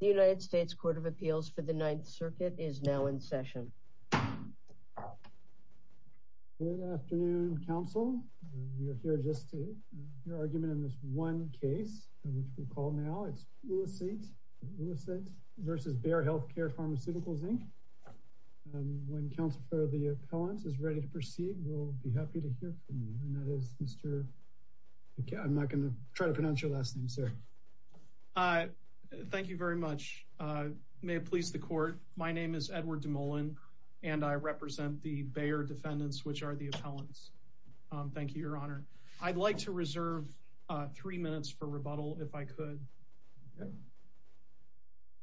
The United States Court of Appeals for the Ninth Circuit is now in session. Good afternoon, counsel. We are here just to hear your argument in this one case, which we call now it's Ulleseit v. Bayer Healthcare Pharmaceuticals, Inc. When counsel for the appellants is ready to proceed, we'll be happy to hear from you. And that is Mr. I'm not going to try to pronounce your last name, sir. Thank you very much. May it please the court. My name is Edward DeMolin, and I represent the Bayer defendants, which are the appellants. Thank you, Your Honor. I'd like to reserve three minutes for rebuttal if I could.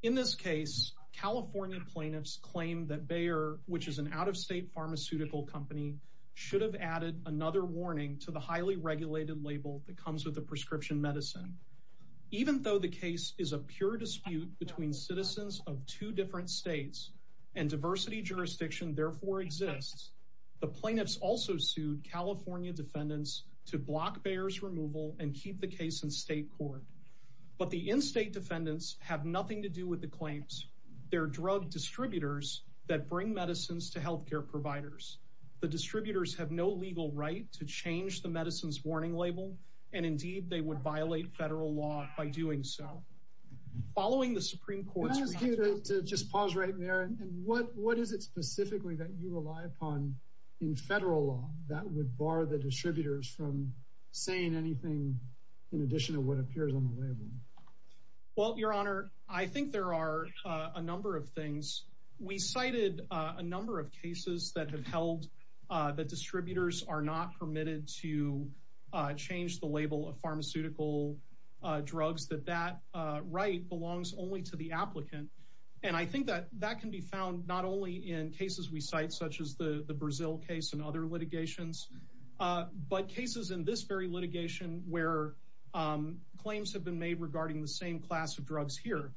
In this case, California plaintiffs claim that Bayer, which is an out-of-state pharmaceutical company, should have added another warning to the highly regulated label that comes with the prescription medicine. Even though the case is a pure dispute between citizens of two different states and diversity jurisdiction therefore exists, the plaintiffs also sued California defendants to block Bayer's removal and keep the case in state court. But the in-state defendants have nothing to do with the claims. They're drug distributors that bring medicines to health care providers. The distributors have no legal right to change the medicines warning label, and indeed, they would violate federal law by doing so. Following the Supreme Court's response... Can I ask you to just pause right there? And what is it specifically that you rely upon in federal law that would bar the distributors from saying anything in addition to what appears on the label? Well, Your Honor, I think there are a number of things. We cited a number of cases that have held that distributors are not permitted to change the label of pharmaceutical drugs, that that right belongs only to the applicant. And I think that that can be found not only in cases we cite, such as the Brazil case and other litigations, but cases in this very litigation where claims have been made regarding the same class of drugs here.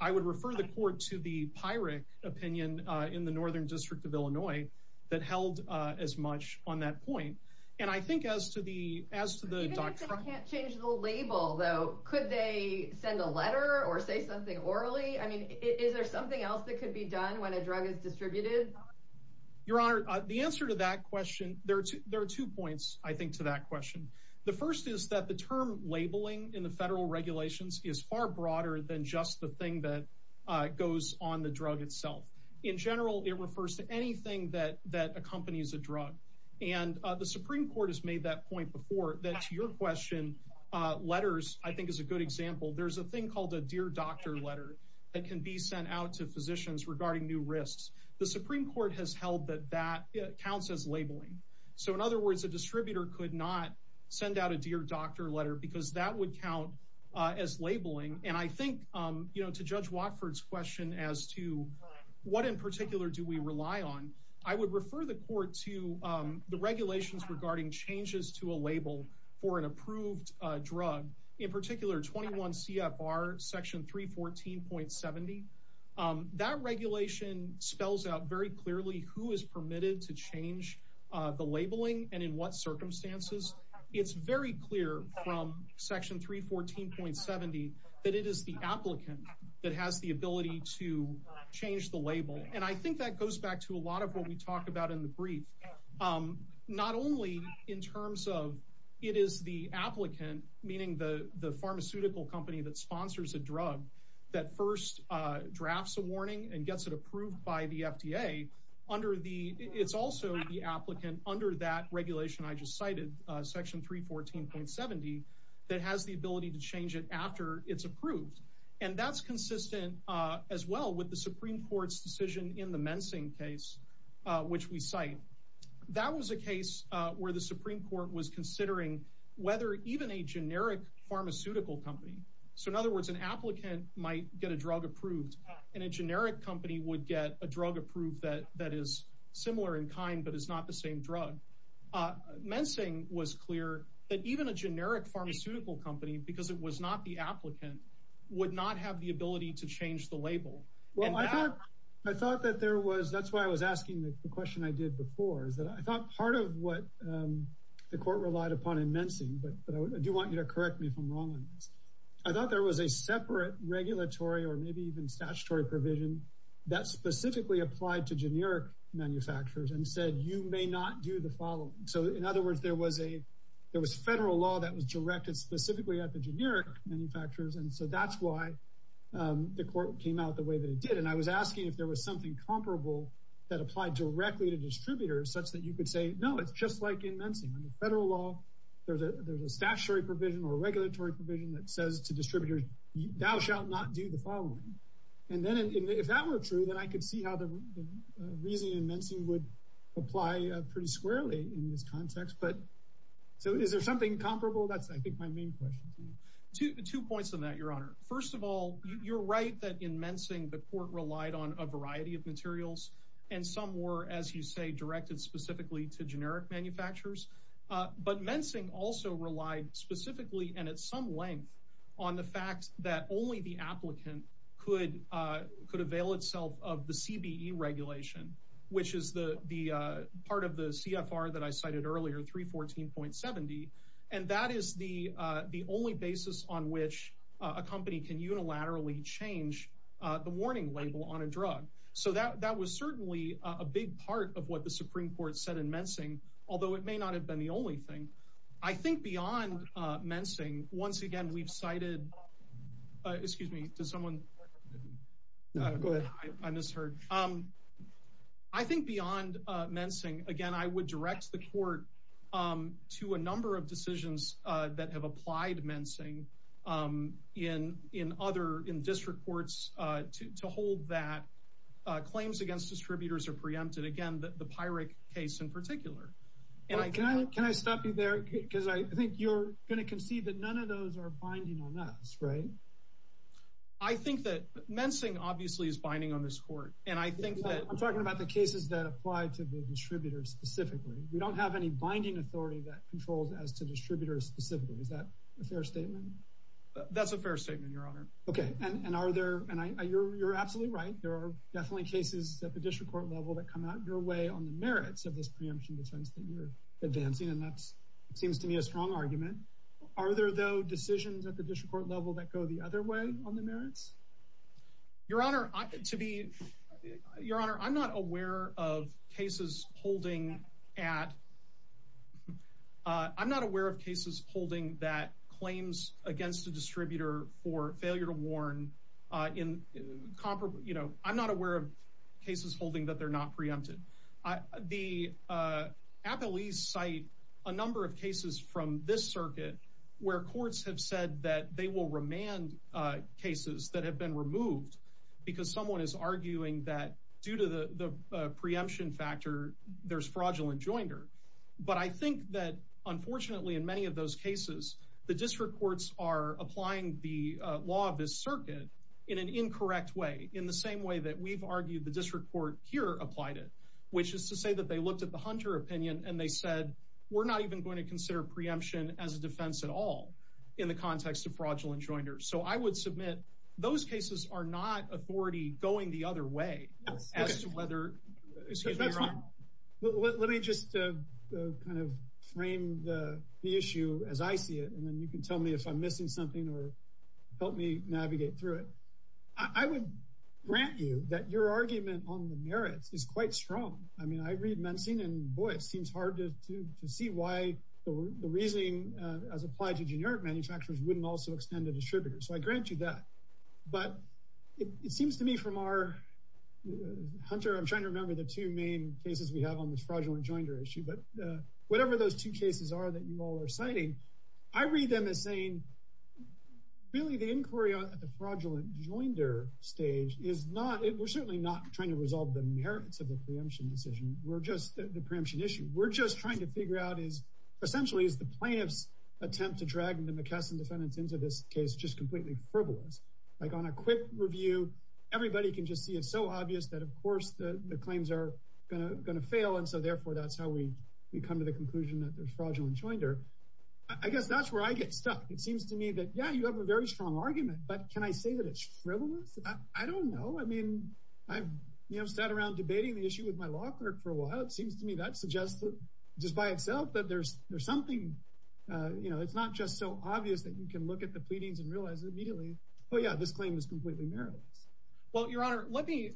I would refer the court to the Pirate opinion in the Northern District of Illinois that held as much on that point. And I think as to the as to the doctrine... Even if they can't change the label, though, could they send a letter or say something orally? I mean, is there something else that could be done when a drug is distributed? Your Honor, the answer to that question... There are two points, I think, to that question. The first is that the term labeling in the federal regulations is far broader than just the thing that goes on the drug itself. In general, it refers to anything that that accompanies a drug. And the Supreme Court has made that point before. That's your question. Letters, I think, is a good example. There's a thing called a dear doctor letter that can be sent out to physicians regarding new risks. The Supreme Court has held that that counts as labeling. So, in other words, a distributor could not send out a dear doctor letter because that would count as labeling. And I think, you know, to Judge Watford's question as to what in particular do we rely on? I would refer the court to the regulations regarding changes to a label for an approved drug, in particular 21 CFR section 314.70. That regulation spells out very clearly who is permitted to change the labeling and in what circumstances. It's very clear from section 314.70 that it is the applicant that has the ability to change the label. And I think that goes back to a lot of what we talked about in the brief. Not only in terms of it is the applicant, meaning the the pharmaceutical company that sponsors a drug that first drafts a warning and gets it approved by the FDA under the it's also the applicant under that regulation I just cited section 314.70 that has the ability to change it after it's approved. And that's consistent as well with the Supreme Court's decision in the mensing case, which we cite. That was a case where the Supreme Court was considering whether even a generic pharmaceutical company. So in other words, an applicant might get a drug approved and a generic company would get a drug approved that that is similar in kind, but it's not the same drug. Mensing was clear that even a generic pharmaceutical company because it was not the applicant would not have the ability to change the label. Well, I thought I thought that there was. That's why I was asking the question I did before is that I thought part of what the court relied upon in mensing, but I do want you to correct me if I'm wrong on this. I thought there was a separate regulatory or maybe even statutory provision that specifically applied to generic manufacturers and said you may not do the following. So in other words, there was a there was federal law that was directed specifically at the generic manufacturers, and so that's why the court came out the way that it did. And I was asking if there was something comparable that applied directly to distributors such that you could say no, it's just like in mensing under federal law. There's a there's a statutory provision or regulatory provision that says to distributors, thou shalt not do the following. And then if that were true, then I could see how the reason in mensing would apply pretty squarely in this context. But so is there something comparable? That's, I think, my main question to two points on that. Your honor. First of all, you're right that in mensing the court relied on a variety of materials and some were, as you say, directed specifically to generic manufacturers. But mensing also relied specifically and at some length on the fact that only the applicant could could avail itself of the CBE regulation, which is the part of the CFR that I cited earlier, 314.70. And that is the the only basis on which a company can unilaterally change the warning label on a drug. So that that was certainly a big part of what the Supreme Court said in mensing, although it may not have been the only thing I think beyond mensing. Once again, we've cited excuse me to someone. I misheard. I think beyond mensing. Again, I would direct the court to a number of decisions that have applied mensing in in other in district courts to hold that claims against distributors are preempted. Again, the pyrrhic case in particular. Can I stop you there? Because I think you're going to concede that none of those are binding on us. Right. I think that mensing obviously is binding on this court. And I think that I'm talking about the cases that apply to the distributors specifically. We don't have any binding authority that controls as to distributors specifically. Is that a fair statement? That's a fair statement, Your Honor. OK. And are there and you're absolutely right. There are definitely cases at the district court level that come out your way on the merits of this preemption defense that you're advancing. And that seems to me a strong argument. Are there, though, decisions at the district court level that go the other way on the merits? Your Honor, to be your honor, I'm not aware of cases holding at. I'm not aware of cases holding that claims against a distributor for failure to warn in copper. You know, I'm not aware of cases holding that they're not preempted. The appellees cite a number of cases from this circuit where courts have said that they will remand cases that have been removed because someone is arguing that due to the preemption factor, there's fraudulent joinder. But I think that, unfortunately, in many of those cases, the district courts are applying the law of this circuit in an incorrect way, in the same way that we've argued the district court here applied it, which is to say that they looked at the Hunter opinion and they said, we're not even going to consider preemption as a defense at all in the context of fraudulent joinders. So I would submit those cases are not authority going the other way as to whether. Let me just kind of frame the issue as I see it. And then you can tell me if I'm missing something or help me navigate through it. I would grant you that your argument on the merits is quite strong. I mean, I read Mensing and boy, it seems hard to see why the reasoning as applied to generic manufacturers wouldn't also extend to distributors. So I grant you that. But it seems to me from our Hunter, I'm trying to remember the two main cases we have on this fraudulent joinder issue. But whatever those two cases are that you all are citing, I read them as saying, really, the inquiry at the fraudulent joinder stage is not it. We're certainly not trying to resolve the merits of the preemption decision. We're just the preemption issue. We're just trying to figure out is essentially is the plaintiff's attempt to drag the McKesson defendants into this case just completely frivolous. Like on a quick review, everybody can just see it's so obvious that, of course, the claims are going to fail. And so therefore, that's how we come to the conclusion that there's fraudulent joinder. I guess that's where I get stuck. It seems to me that, yeah, you have a very strong argument. But can I say that it's frivolous? I don't know. I mean, I've sat around debating the issue with my law clerk for a while. It seems to me that suggests just by itself that there's there's something. You know, it's not just so obvious that you can look at the pleadings and realize immediately. Oh, yeah. This claim is completely meritorious. Well, Your Honor, let me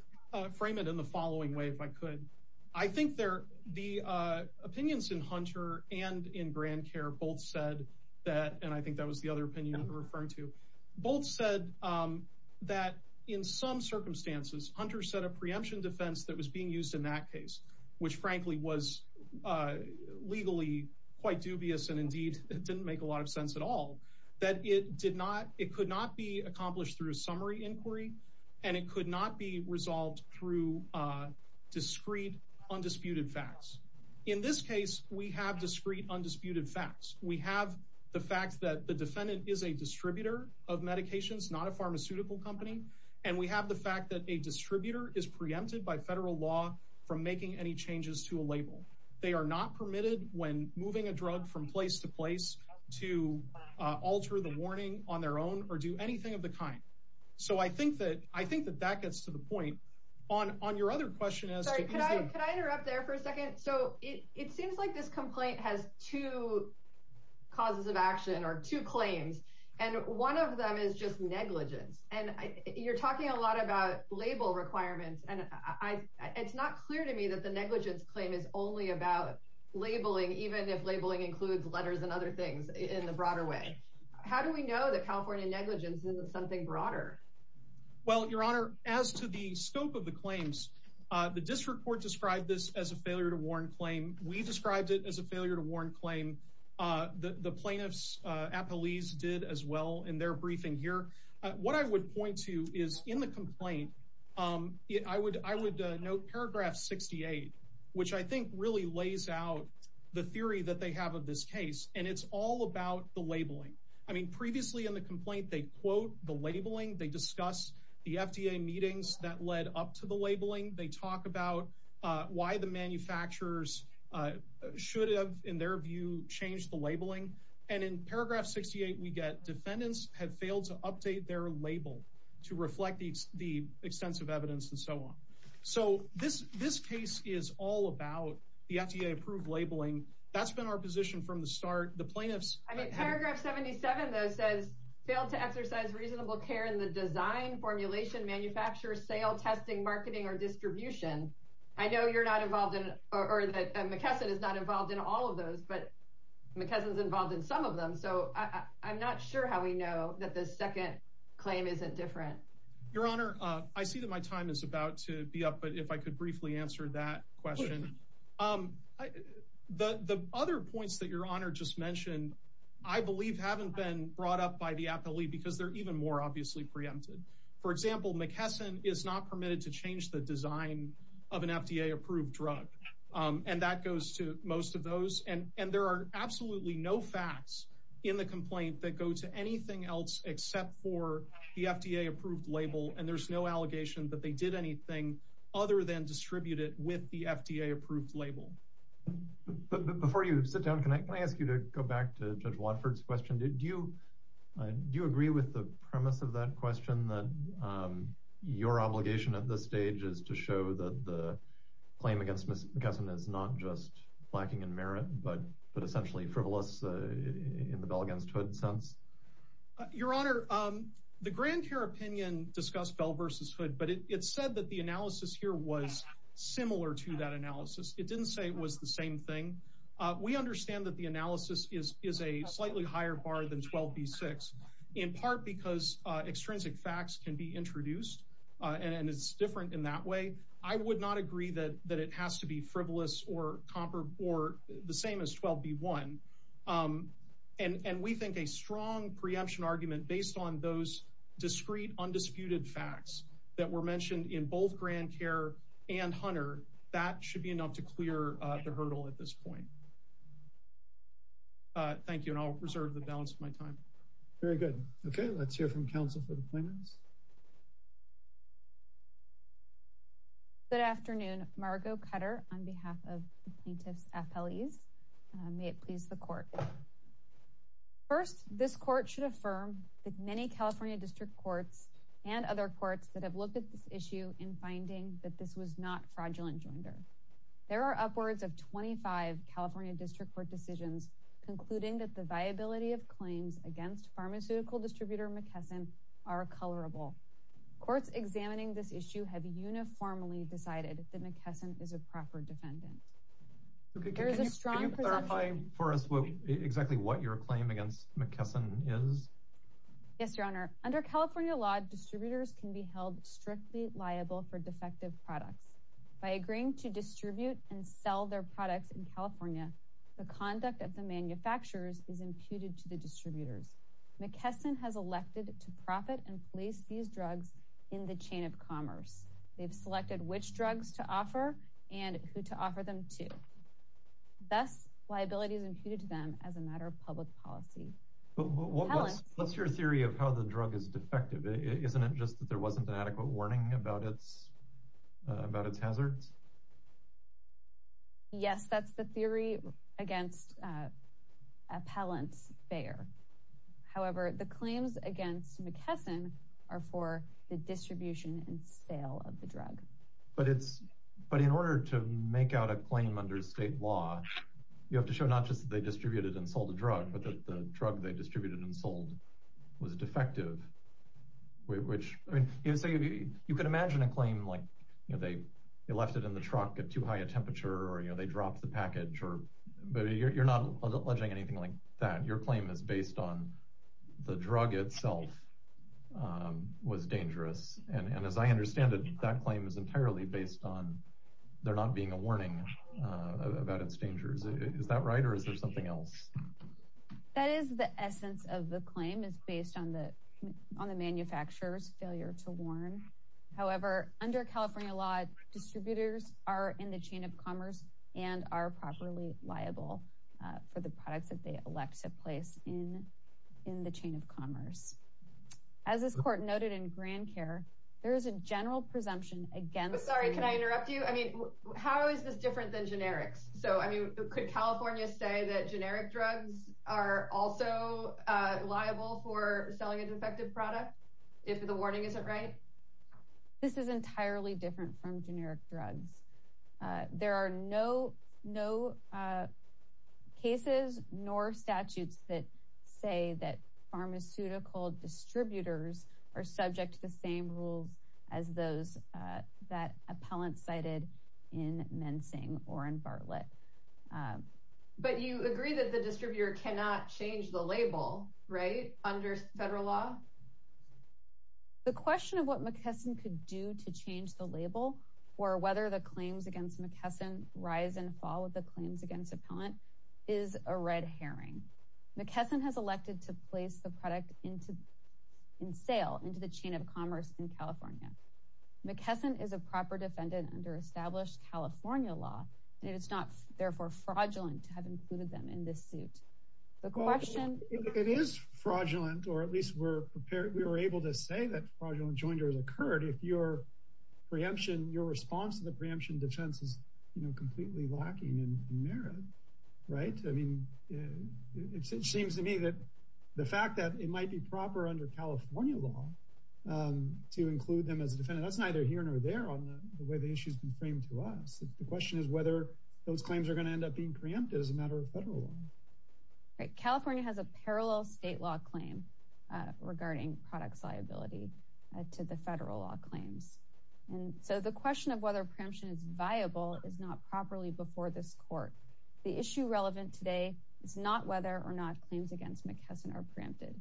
frame it in the following way, if I could. I think there are the opinions in Hunter and in Grand Care both said that. And I think that was the other opinion referring to both said that in some circumstances, Hunter said a preemption defense that was being used in that case, which frankly was legally quite dubious. And indeed, it didn't make a lot of sense at all that it did not. It could not be accomplished through a summary inquiry and it could not be resolved through discreet, undisputed facts. In this case, we have discreet, undisputed facts. We have the fact that the defendant is a distributor of medications, not a pharmaceutical company. And we have the fact that a distributor is preempted by federal law from making any changes to a label. They are not permitted when moving a drug from place to place to alter the warning on their own or do anything of the kind. So I think that I think that that gets to the point on on your other question. Can I interrupt there for a second? So it seems like this complaint has two causes of action or two claims, and one of them is just negligence. And you're talking a lot about label requirements. And it's not clear to me that the negligence claim is only about labeling, even if labeling includes letters and other things in the broader way. How do we know that California negligence is something broader? Well, Your Honor, as to the scope of the claims, the district court described this as a failure to warn claim. We described it as a failure to warn claim. The plaintiffs at police did as well in their briefing here. What I would point to is in the complaint, I would I would note paragraph 68, which I think really lays out the theory that they have of this case. And it's all about the labeling. I mean, previously in the complaint, they quote the labeling. They discuss the FDA meetings that led up to the labeling. They talk about why the manufacturers should have, in their view, changed the labeling. And in paragraph 68, we get defendants have failed to update their label to reflect the extensive evidence and so on. So this this case is all about the FDA approved labeling. That's been our position from the start. The plaintiffs. I mean, paragraph 77, though, says failed to exercise reasonable care in the design, formulation, manufacture, sale, testing, marketing or distribution. I know you're not involved in or that McKesson is not involved in all of those, but McKesson is involved in some of them. So I'm not sure how we know that the second claim isn't different. Your Honor, I see that my time is about to be up. But if I could briefly answer that question. The other points that your honor just mentioned, I believe, haven't been brought up by the appellee because they're even more obviously preempted. For example, McKesson is not permitted to change the design of an FDA approved drug. And that goes to most of those. And there are absolutely no facts in the complaint that go to anything else except for the FDA approved label. And there's no allegation that they did anything other than distribute it with the FDA approved label. But before you sit down, can I ask you to go back to Judge Watford's question? Do you do you agree with the premise of that question that your obligation at this stage is to show that the claim against McKesson is not just lacking in merit, but but essentially frivolous in the Bell against Hood sense? Your Honor, the grand jury opinion discussed Bell versus Hood, but it said that the analysis here was similar to that analysis. It didn't say it was the same thing. We understand that the analysis is is a slightly higher bar than 12B6, in part because extrinsic facts can be introduced. And it's different in that way. I would not agree that that it has to be frivolous or comparable or the same as 12B1. And we think a strong preemption argument based on those discrete undisputed facts that were mentioned in both Grand Care and Hunter, that should be enough to clear the hurdle at this point. Thank you. And I'll reserve the balance of my time. Very good. OK, let's hear from counsel for the plaintiffs. Good afternoon, Margo Cutter, on behalf of plaintiff's FLEs. May it please the court. First, this court should affirm that many California district courts and other courts that have looked at this issue in finding that this was not fraudulent joinder. There are upwards of 25 California district court decisions concluding that the viability of claims against pharmaceutical distributor McKesson are colorable. Courts examining this issue have uniformly decided that McKesson is a proper defendant. Can you clarify for us exactly what your claim against McKesson is? Yes, Your Honor. Under California law, distributors can be held strictly liable for defective products. By agreeing to distribute and sell their products in California, the conduct of the manufacturers is imputed to the distributors. McKesson has elected to profit and place these drugs in the chain of commerce. They've selected which drugs to offer and who to offer them to. Thus, liability is imputed to them as a matter of public policy. What's your theory of how the drug is defective? Isn't it just that there wasn't an adequate warning about its hazards? Yes, that's the theory against appellant Bayer. However, the claims against McKesson are for the distribution and sale of the drug. But in order to make out a claim under state law, you have to show not just that they distributed and sold the drug, but that the drug they distributed and sold was defective. You could imagine a claim like they left it in the truck at too high a temperature or they dropped the package. But you're not alleging anything like that. Your claim is based on the drug itself was dangerous. And as I understand it, that claim is entirely based on there not being a warning about its dangers. Is that right or is there something else? That is the essence of the claim is based on the on the manufacturer's failure to warn. However, under California law, distributors are in the chain of commerce and are properly liable for the products that they elect to place in in the chain of commerce. As this court noted in Grand Care, there is a general presumption against. Sorry, can I interrupt you? I mean, how is this different than generics? So, I mean, could California say that generic drugs are also liable for selling a defective product if the warning isn't right? This is entirely different from generic drugs. There are no no cases nor statutes that say that pharmaceutical distributors are subject to the same rules as those that appellants cited in mensing or in Bartlett. But you agree that the distributor cannot change the label right under federal law. The question of what McKesson could do to change the label or whether the claims against McKesson rise and fall with the claims against appellant is a red herring. McKesson has elected to place the product into in sale into the chain of commerce in California. McKesson is a proper defendant under established California law. And it's not therefore fraudulent to have included them in this suit. The question it is fraudulent, or at least we're prepared. We were able to say that fraudulent joinder has occurred. If your preemption, your response to the preemption defense is completely lacking in merit. Right. I mean, it seems to me that the fact that it might be proper under California law to include them as a defendant. That's neither here nor there on the way the issue has been framed to us. The question is whether those claims are going to end up being preempted as a matter of federal law. California has a parallel state law claim regarding products liability to the federal law claims. And so the question of whether preemption is viable is not properly before this court. The issue relevant today is not whether or not claims against McKesson are preempted.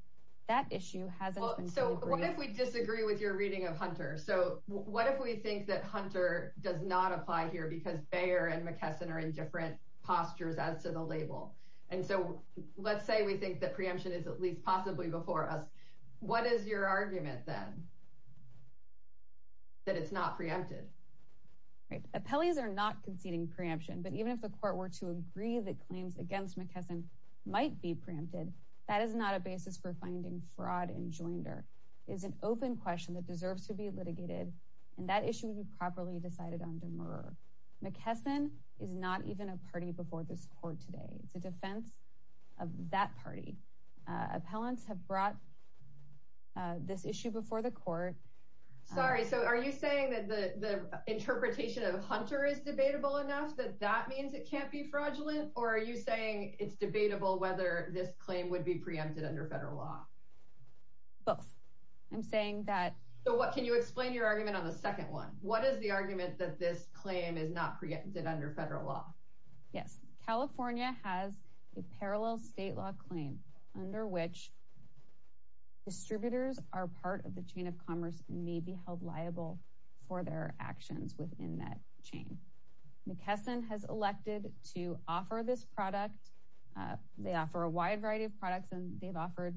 That issue hasn't. So what if we disagree with your reading of Hunter? So what if we think that Hunter does not apply here because Bayer and McKesson are in different postures as to the label? And so let's say we think that preemption is at least possibly before us. What is your argument, then? That it's not preempted. Appellees are not conceding preemption, but even if the court were to agree that claims against McKesson might be preempted. That is not a basis for finding fraud and joinder is an open question that deserves to be litigated. And that issue would be properly decided on demur. McKesson is not even a party before this court today. It's a defense of that party. Appellants have brought this issue before the court. Sorry. So are you saying that the interpretation of Hunter is debatable enough that that means it can't be fraudulent? Or are you saying it's debatable whether this claim would be preempted under federal law? Both. I'm saying that. So what can you explain your argument on the second one? What is the argument that this claim is not preempted under federal law? Yes. California has a parallel state law claim under which. Distributors are part of the chain of commerce and may be held liable for their actions within that chain. McKesson has elected to offer this product. They offer a wide variety of products. And they've offered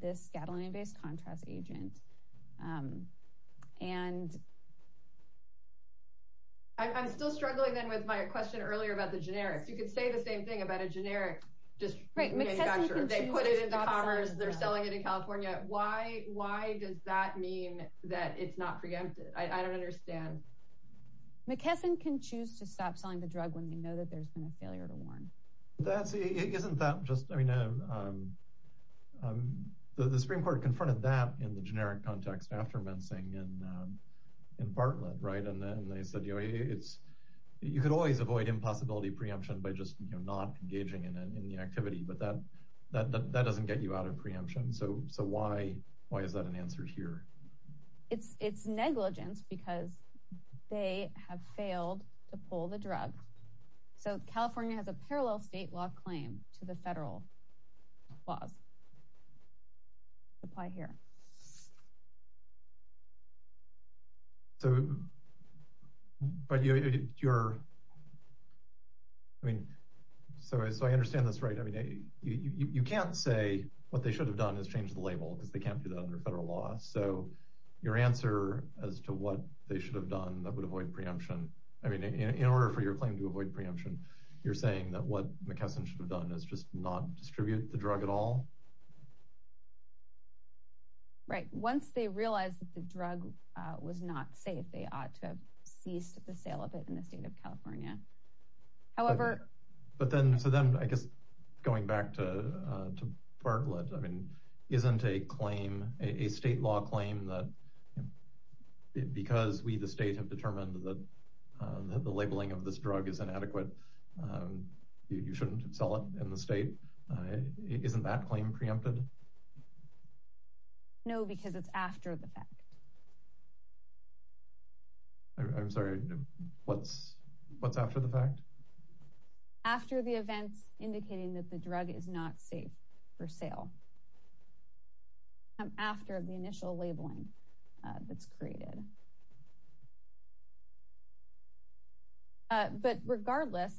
this Gatling based contrast agent. And. I'm still struggling, then, with my question earlier about the generics. You could say the same thing about a generic just right. They put it into commerce. They're selling it in California. Why? Why does that mean that it's not preempted? I don't understand. McKesson can choose to stop selling the drug when they know that there's been a failure to warn. That's it. Isn't that just. I mean, the Supreme Court confronted that in the generic context after mincing and in Bartlett. Right. And then they said, you know, it's you could always avoid impossibility preemption by just not engaging in the activity. But that that doesn't get you out of preemption. So. So why? Why is that an answer here? It's negligence because they have failed to pull the drug. So California has a parallel state law claim to the federal laws. Apply here. So. But you're. I mean, so as I understand this right now, you can't say what they should have done is change the label because they can't do that under federal law. So your answer as to what they should have done that would avoid preemption. I mean, in order for your claim to avoid preemption, you're saying that what McKesson should have done is just not distribute the drug at all. Right. Once they realize that the drug was not safe, they ought to have ceased the sale of it in the state of California. However. But then so then I guess going back to Bartlett, I mean, isn't a claim a state law claim that because we the state have determined that the labeling of this drug is inadequate? You shouldn't sell it in the state. Isn't that claim preempted? No, because it's after the fact. I'm sorry. What's what's after the fact? After the events indicating that the drug is not safe for sale. After the initial labeling that's created. But regardless.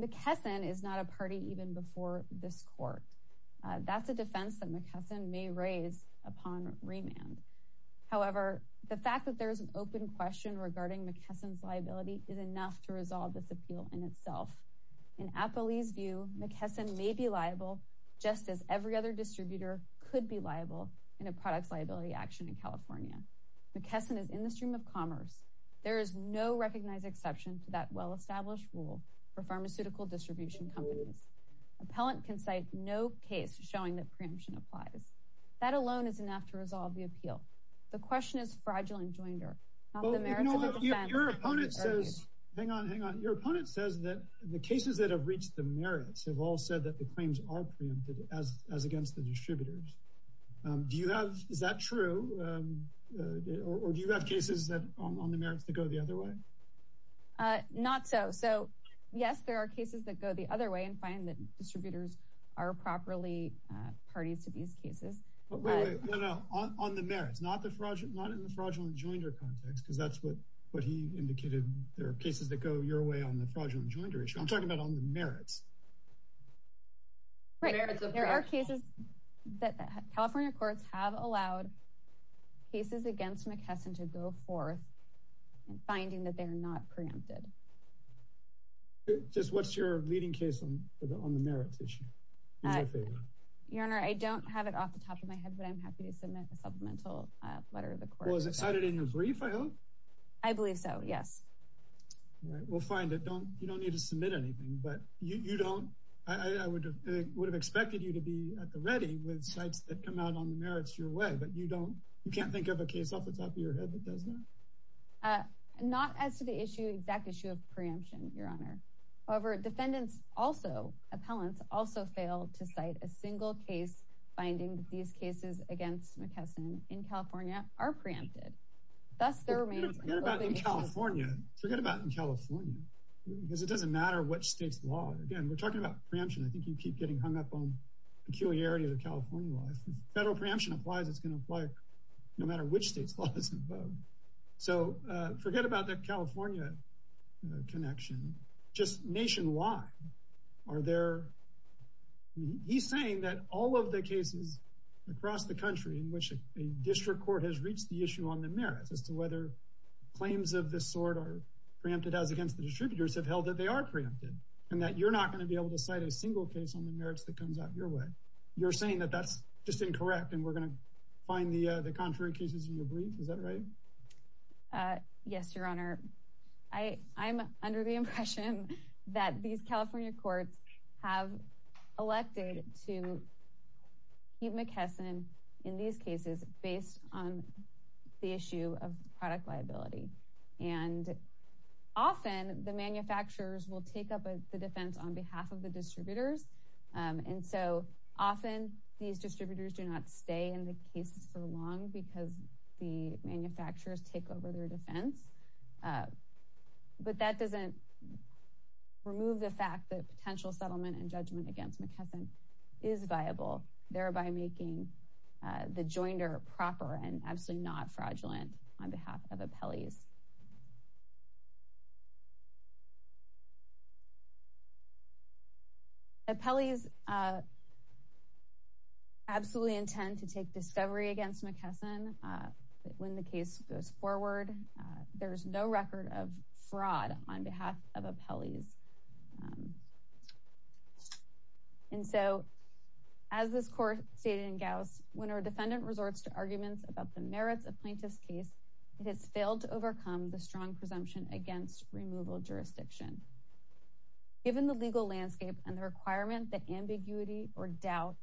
McKesson is not a party even before this court. That's a defense that McKesson may raise upon remand. However, the fact that there is an open question regarding McKesson's liability is enough to resolve this appeal in itself. In Apple's view, McKesson may be liable, just as every other distributor could be liable in a product liability action in California. McKesson is in the stream of commerce. There is no recognized exception to that well-established rule for pharmaceutical distribution companies. Appellant can cite no case showing that preemption applies. That alone is enough to resolve the appeal. The question is fragile and joined her. Your opponent says, hang on, hang on. Your opponent says that the cases that have reached the merits have all said that the claims are preempted as as against the distributors. Do you have. Is that true? Or do you have cases that are on the merits that go the other way? Not so. So, yes, there are cases that go the other way and find that distributors are properly parties to these cases. But on the merits, not the fraudulent, not in the fraudulent joinder context, because that's what what he indicated. There are cases that go your way on the fraudulent joinder issue. I'm talking about on the merits. Right. There are cases that California courts have allowed cases against McKesson to go forth and finding that they're not preempted. Just what's your leading case on the merits issue? Your Honor, I don't have it off the top of my head, but I'm happy to submit a supplemental letter of the court. Was it cited in your brief? I hope. I believe so. Yes. We'll find it. Don't you don't need to submit anything, but you don't. I would have expected you to be at the ready with sites that come out on the merits your way. But you don't you can't think of a case off the top of your head that does that. Not as to the issue, exact issue of preemption, Your Honor. However, defendants also appellants also fail to cite a single case finding these cases against McKesson in California are preempted. That's their remains in California. Forget about in California, because it doesn't matter what state's law. Again, we're talking about preemption. I think you keep getting hung up on peculiarity of the California law. Federal preemption applies. It's going to apply no matter which state's laws. So forget about the California connection. Just nationwide. Are there. He's saying that all of the cases across the country in which a district court has reached the issue on the merits as to whether claims of this sort are preempted as against the distributors have held that they are preempted and that you're not going to be able to cite a single case on the merits that comes out your way. You're saying that that's just incorrect. And we're going to find the contrary cases in your brief. Is that right? Yes, Your Honor. I am under the impression that these California courts have elected to keep McKesson in these cases based on the issue of product liability. And often the manufacturers will take up the defense on behalf of the distributors. And so often these distributors do not stay in the case for long because the manufacturers take over their defense. But that doesn't remove the fact that potential settlement and judgment against McKesson is viable, thereby making the joinder proper and absolutely not fraudulent on behalf of appellees. Appellees absolutely intend to take discovery against McKesson when the case goes forward. There is no record of fraud on behalf of appellees. And so as this court stated in Gauss, when our defendant resorts to arguments about the merits of plaintiff's case, it has failed to overcome the strong presumption against removal jurisdiction. Given the legal landscape and the requirement that ambiguity or doubt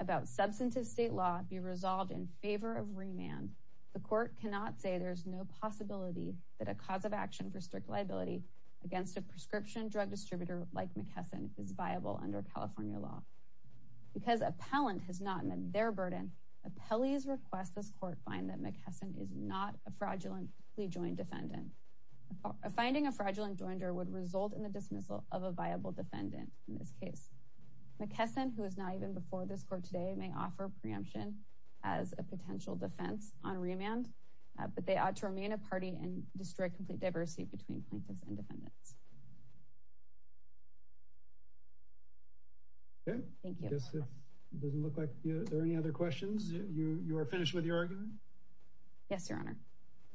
about substantive state law be resolved in favor of remand, the court cannot say there's no possibility that a cause of action for strict liability against a prescription drug distributor like McKesson is viable under California law. Because appellant has not met their burden, appellees request this court find that McKesson is not a fraudulently joined defendant. Finding a fraudulent joinder would result in the dismissal of a viable defendant in this case. McKesson, who is not even before this court today, may offer preemption as a potential defense on remand, but they ought to remain a party and destroy complete diversity between plaintiffs and defendants. Thank you. Does it look like there are any other questions? You are finished with your argument? Yes, Your Honor.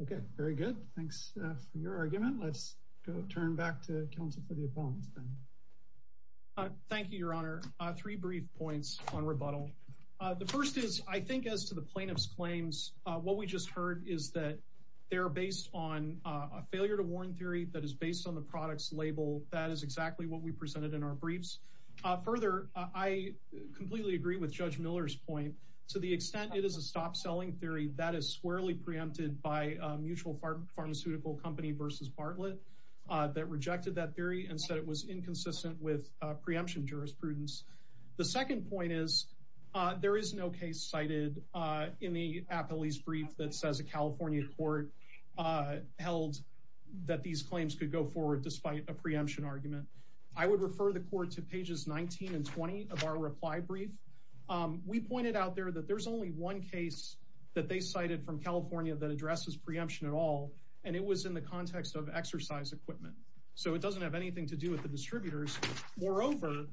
Okay, very good. Thanks for your argument. Let's go turn back to counsel for the appellants then. Thank you, Your Honor. Three brief points on rebuttal. The first is, I think as to the plaintiff's claims, what we just heard is that they're based on a failure to warn theory that is based on the product's label. That is exactly what we presented in our briefs. Further, I completely agree with Judge Miller's point. To the extent it is a stop-selling theory, that is squarely preempted by a mutual pharmaceutical company versus Bartlett that rejected that theory and said it was inconsistent with preemption jurisprudence. The second point is, there is no case cited in the appellee's brief that says a California court held that these claims could go forward despite a preemption argument. I would refer the court to pages 19 and 20 of our reply brief. We pointed out there that there's only one case that they cited from California that addresses preemption at all, and it was in the context of exercise equipment. So it doesn't have anything to do with the distributors. Moreover,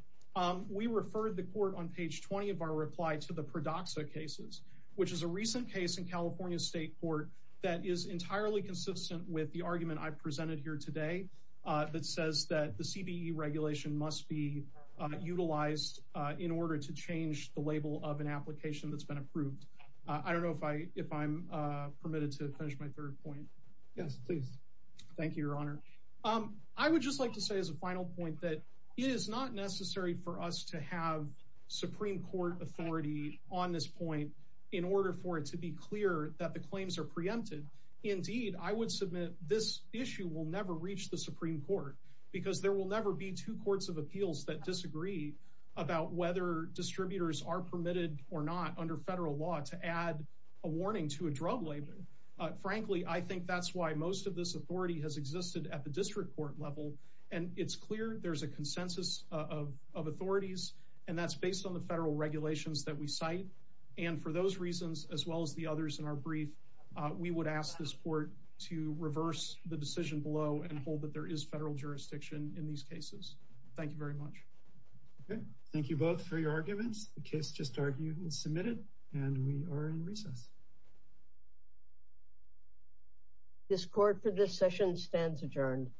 we referred the court on page 20 of our reply to the Pradoxa cases, which is a recent case in California State Court that is entirely consistent with the argument I presented here today that says that the CBE regulation must be utilized in order to change the label of an application that's been approved. I don't know if I'm permitted to finish my third point. Yes, please. Thank you, Your Honor. I would just like to say as a final point that it is not necessary for us to have Supreme Court authority on this point in order for it to be clear that the claims are preempted. Indeed, I would submit this issue will never reach the Supreme Court because there will never be two courts of appeals that disagree about whether distributors are permitted or not under federal law to add a warning to a drug label. Frankly, I think that's why most of this authority has existed at the district court level, and it's clear there's a consensus of authorities, and that's based on the federal regulations that we cite. And for those reasons, as well as the others in our brief, we would ask this court to reverse the decision below and hold that there is federal jurisdiction in these cases. Thank you very much. Thank you both for your arguments. The case just argued and submitted, and we are in recess. This court for this session stands adjourned.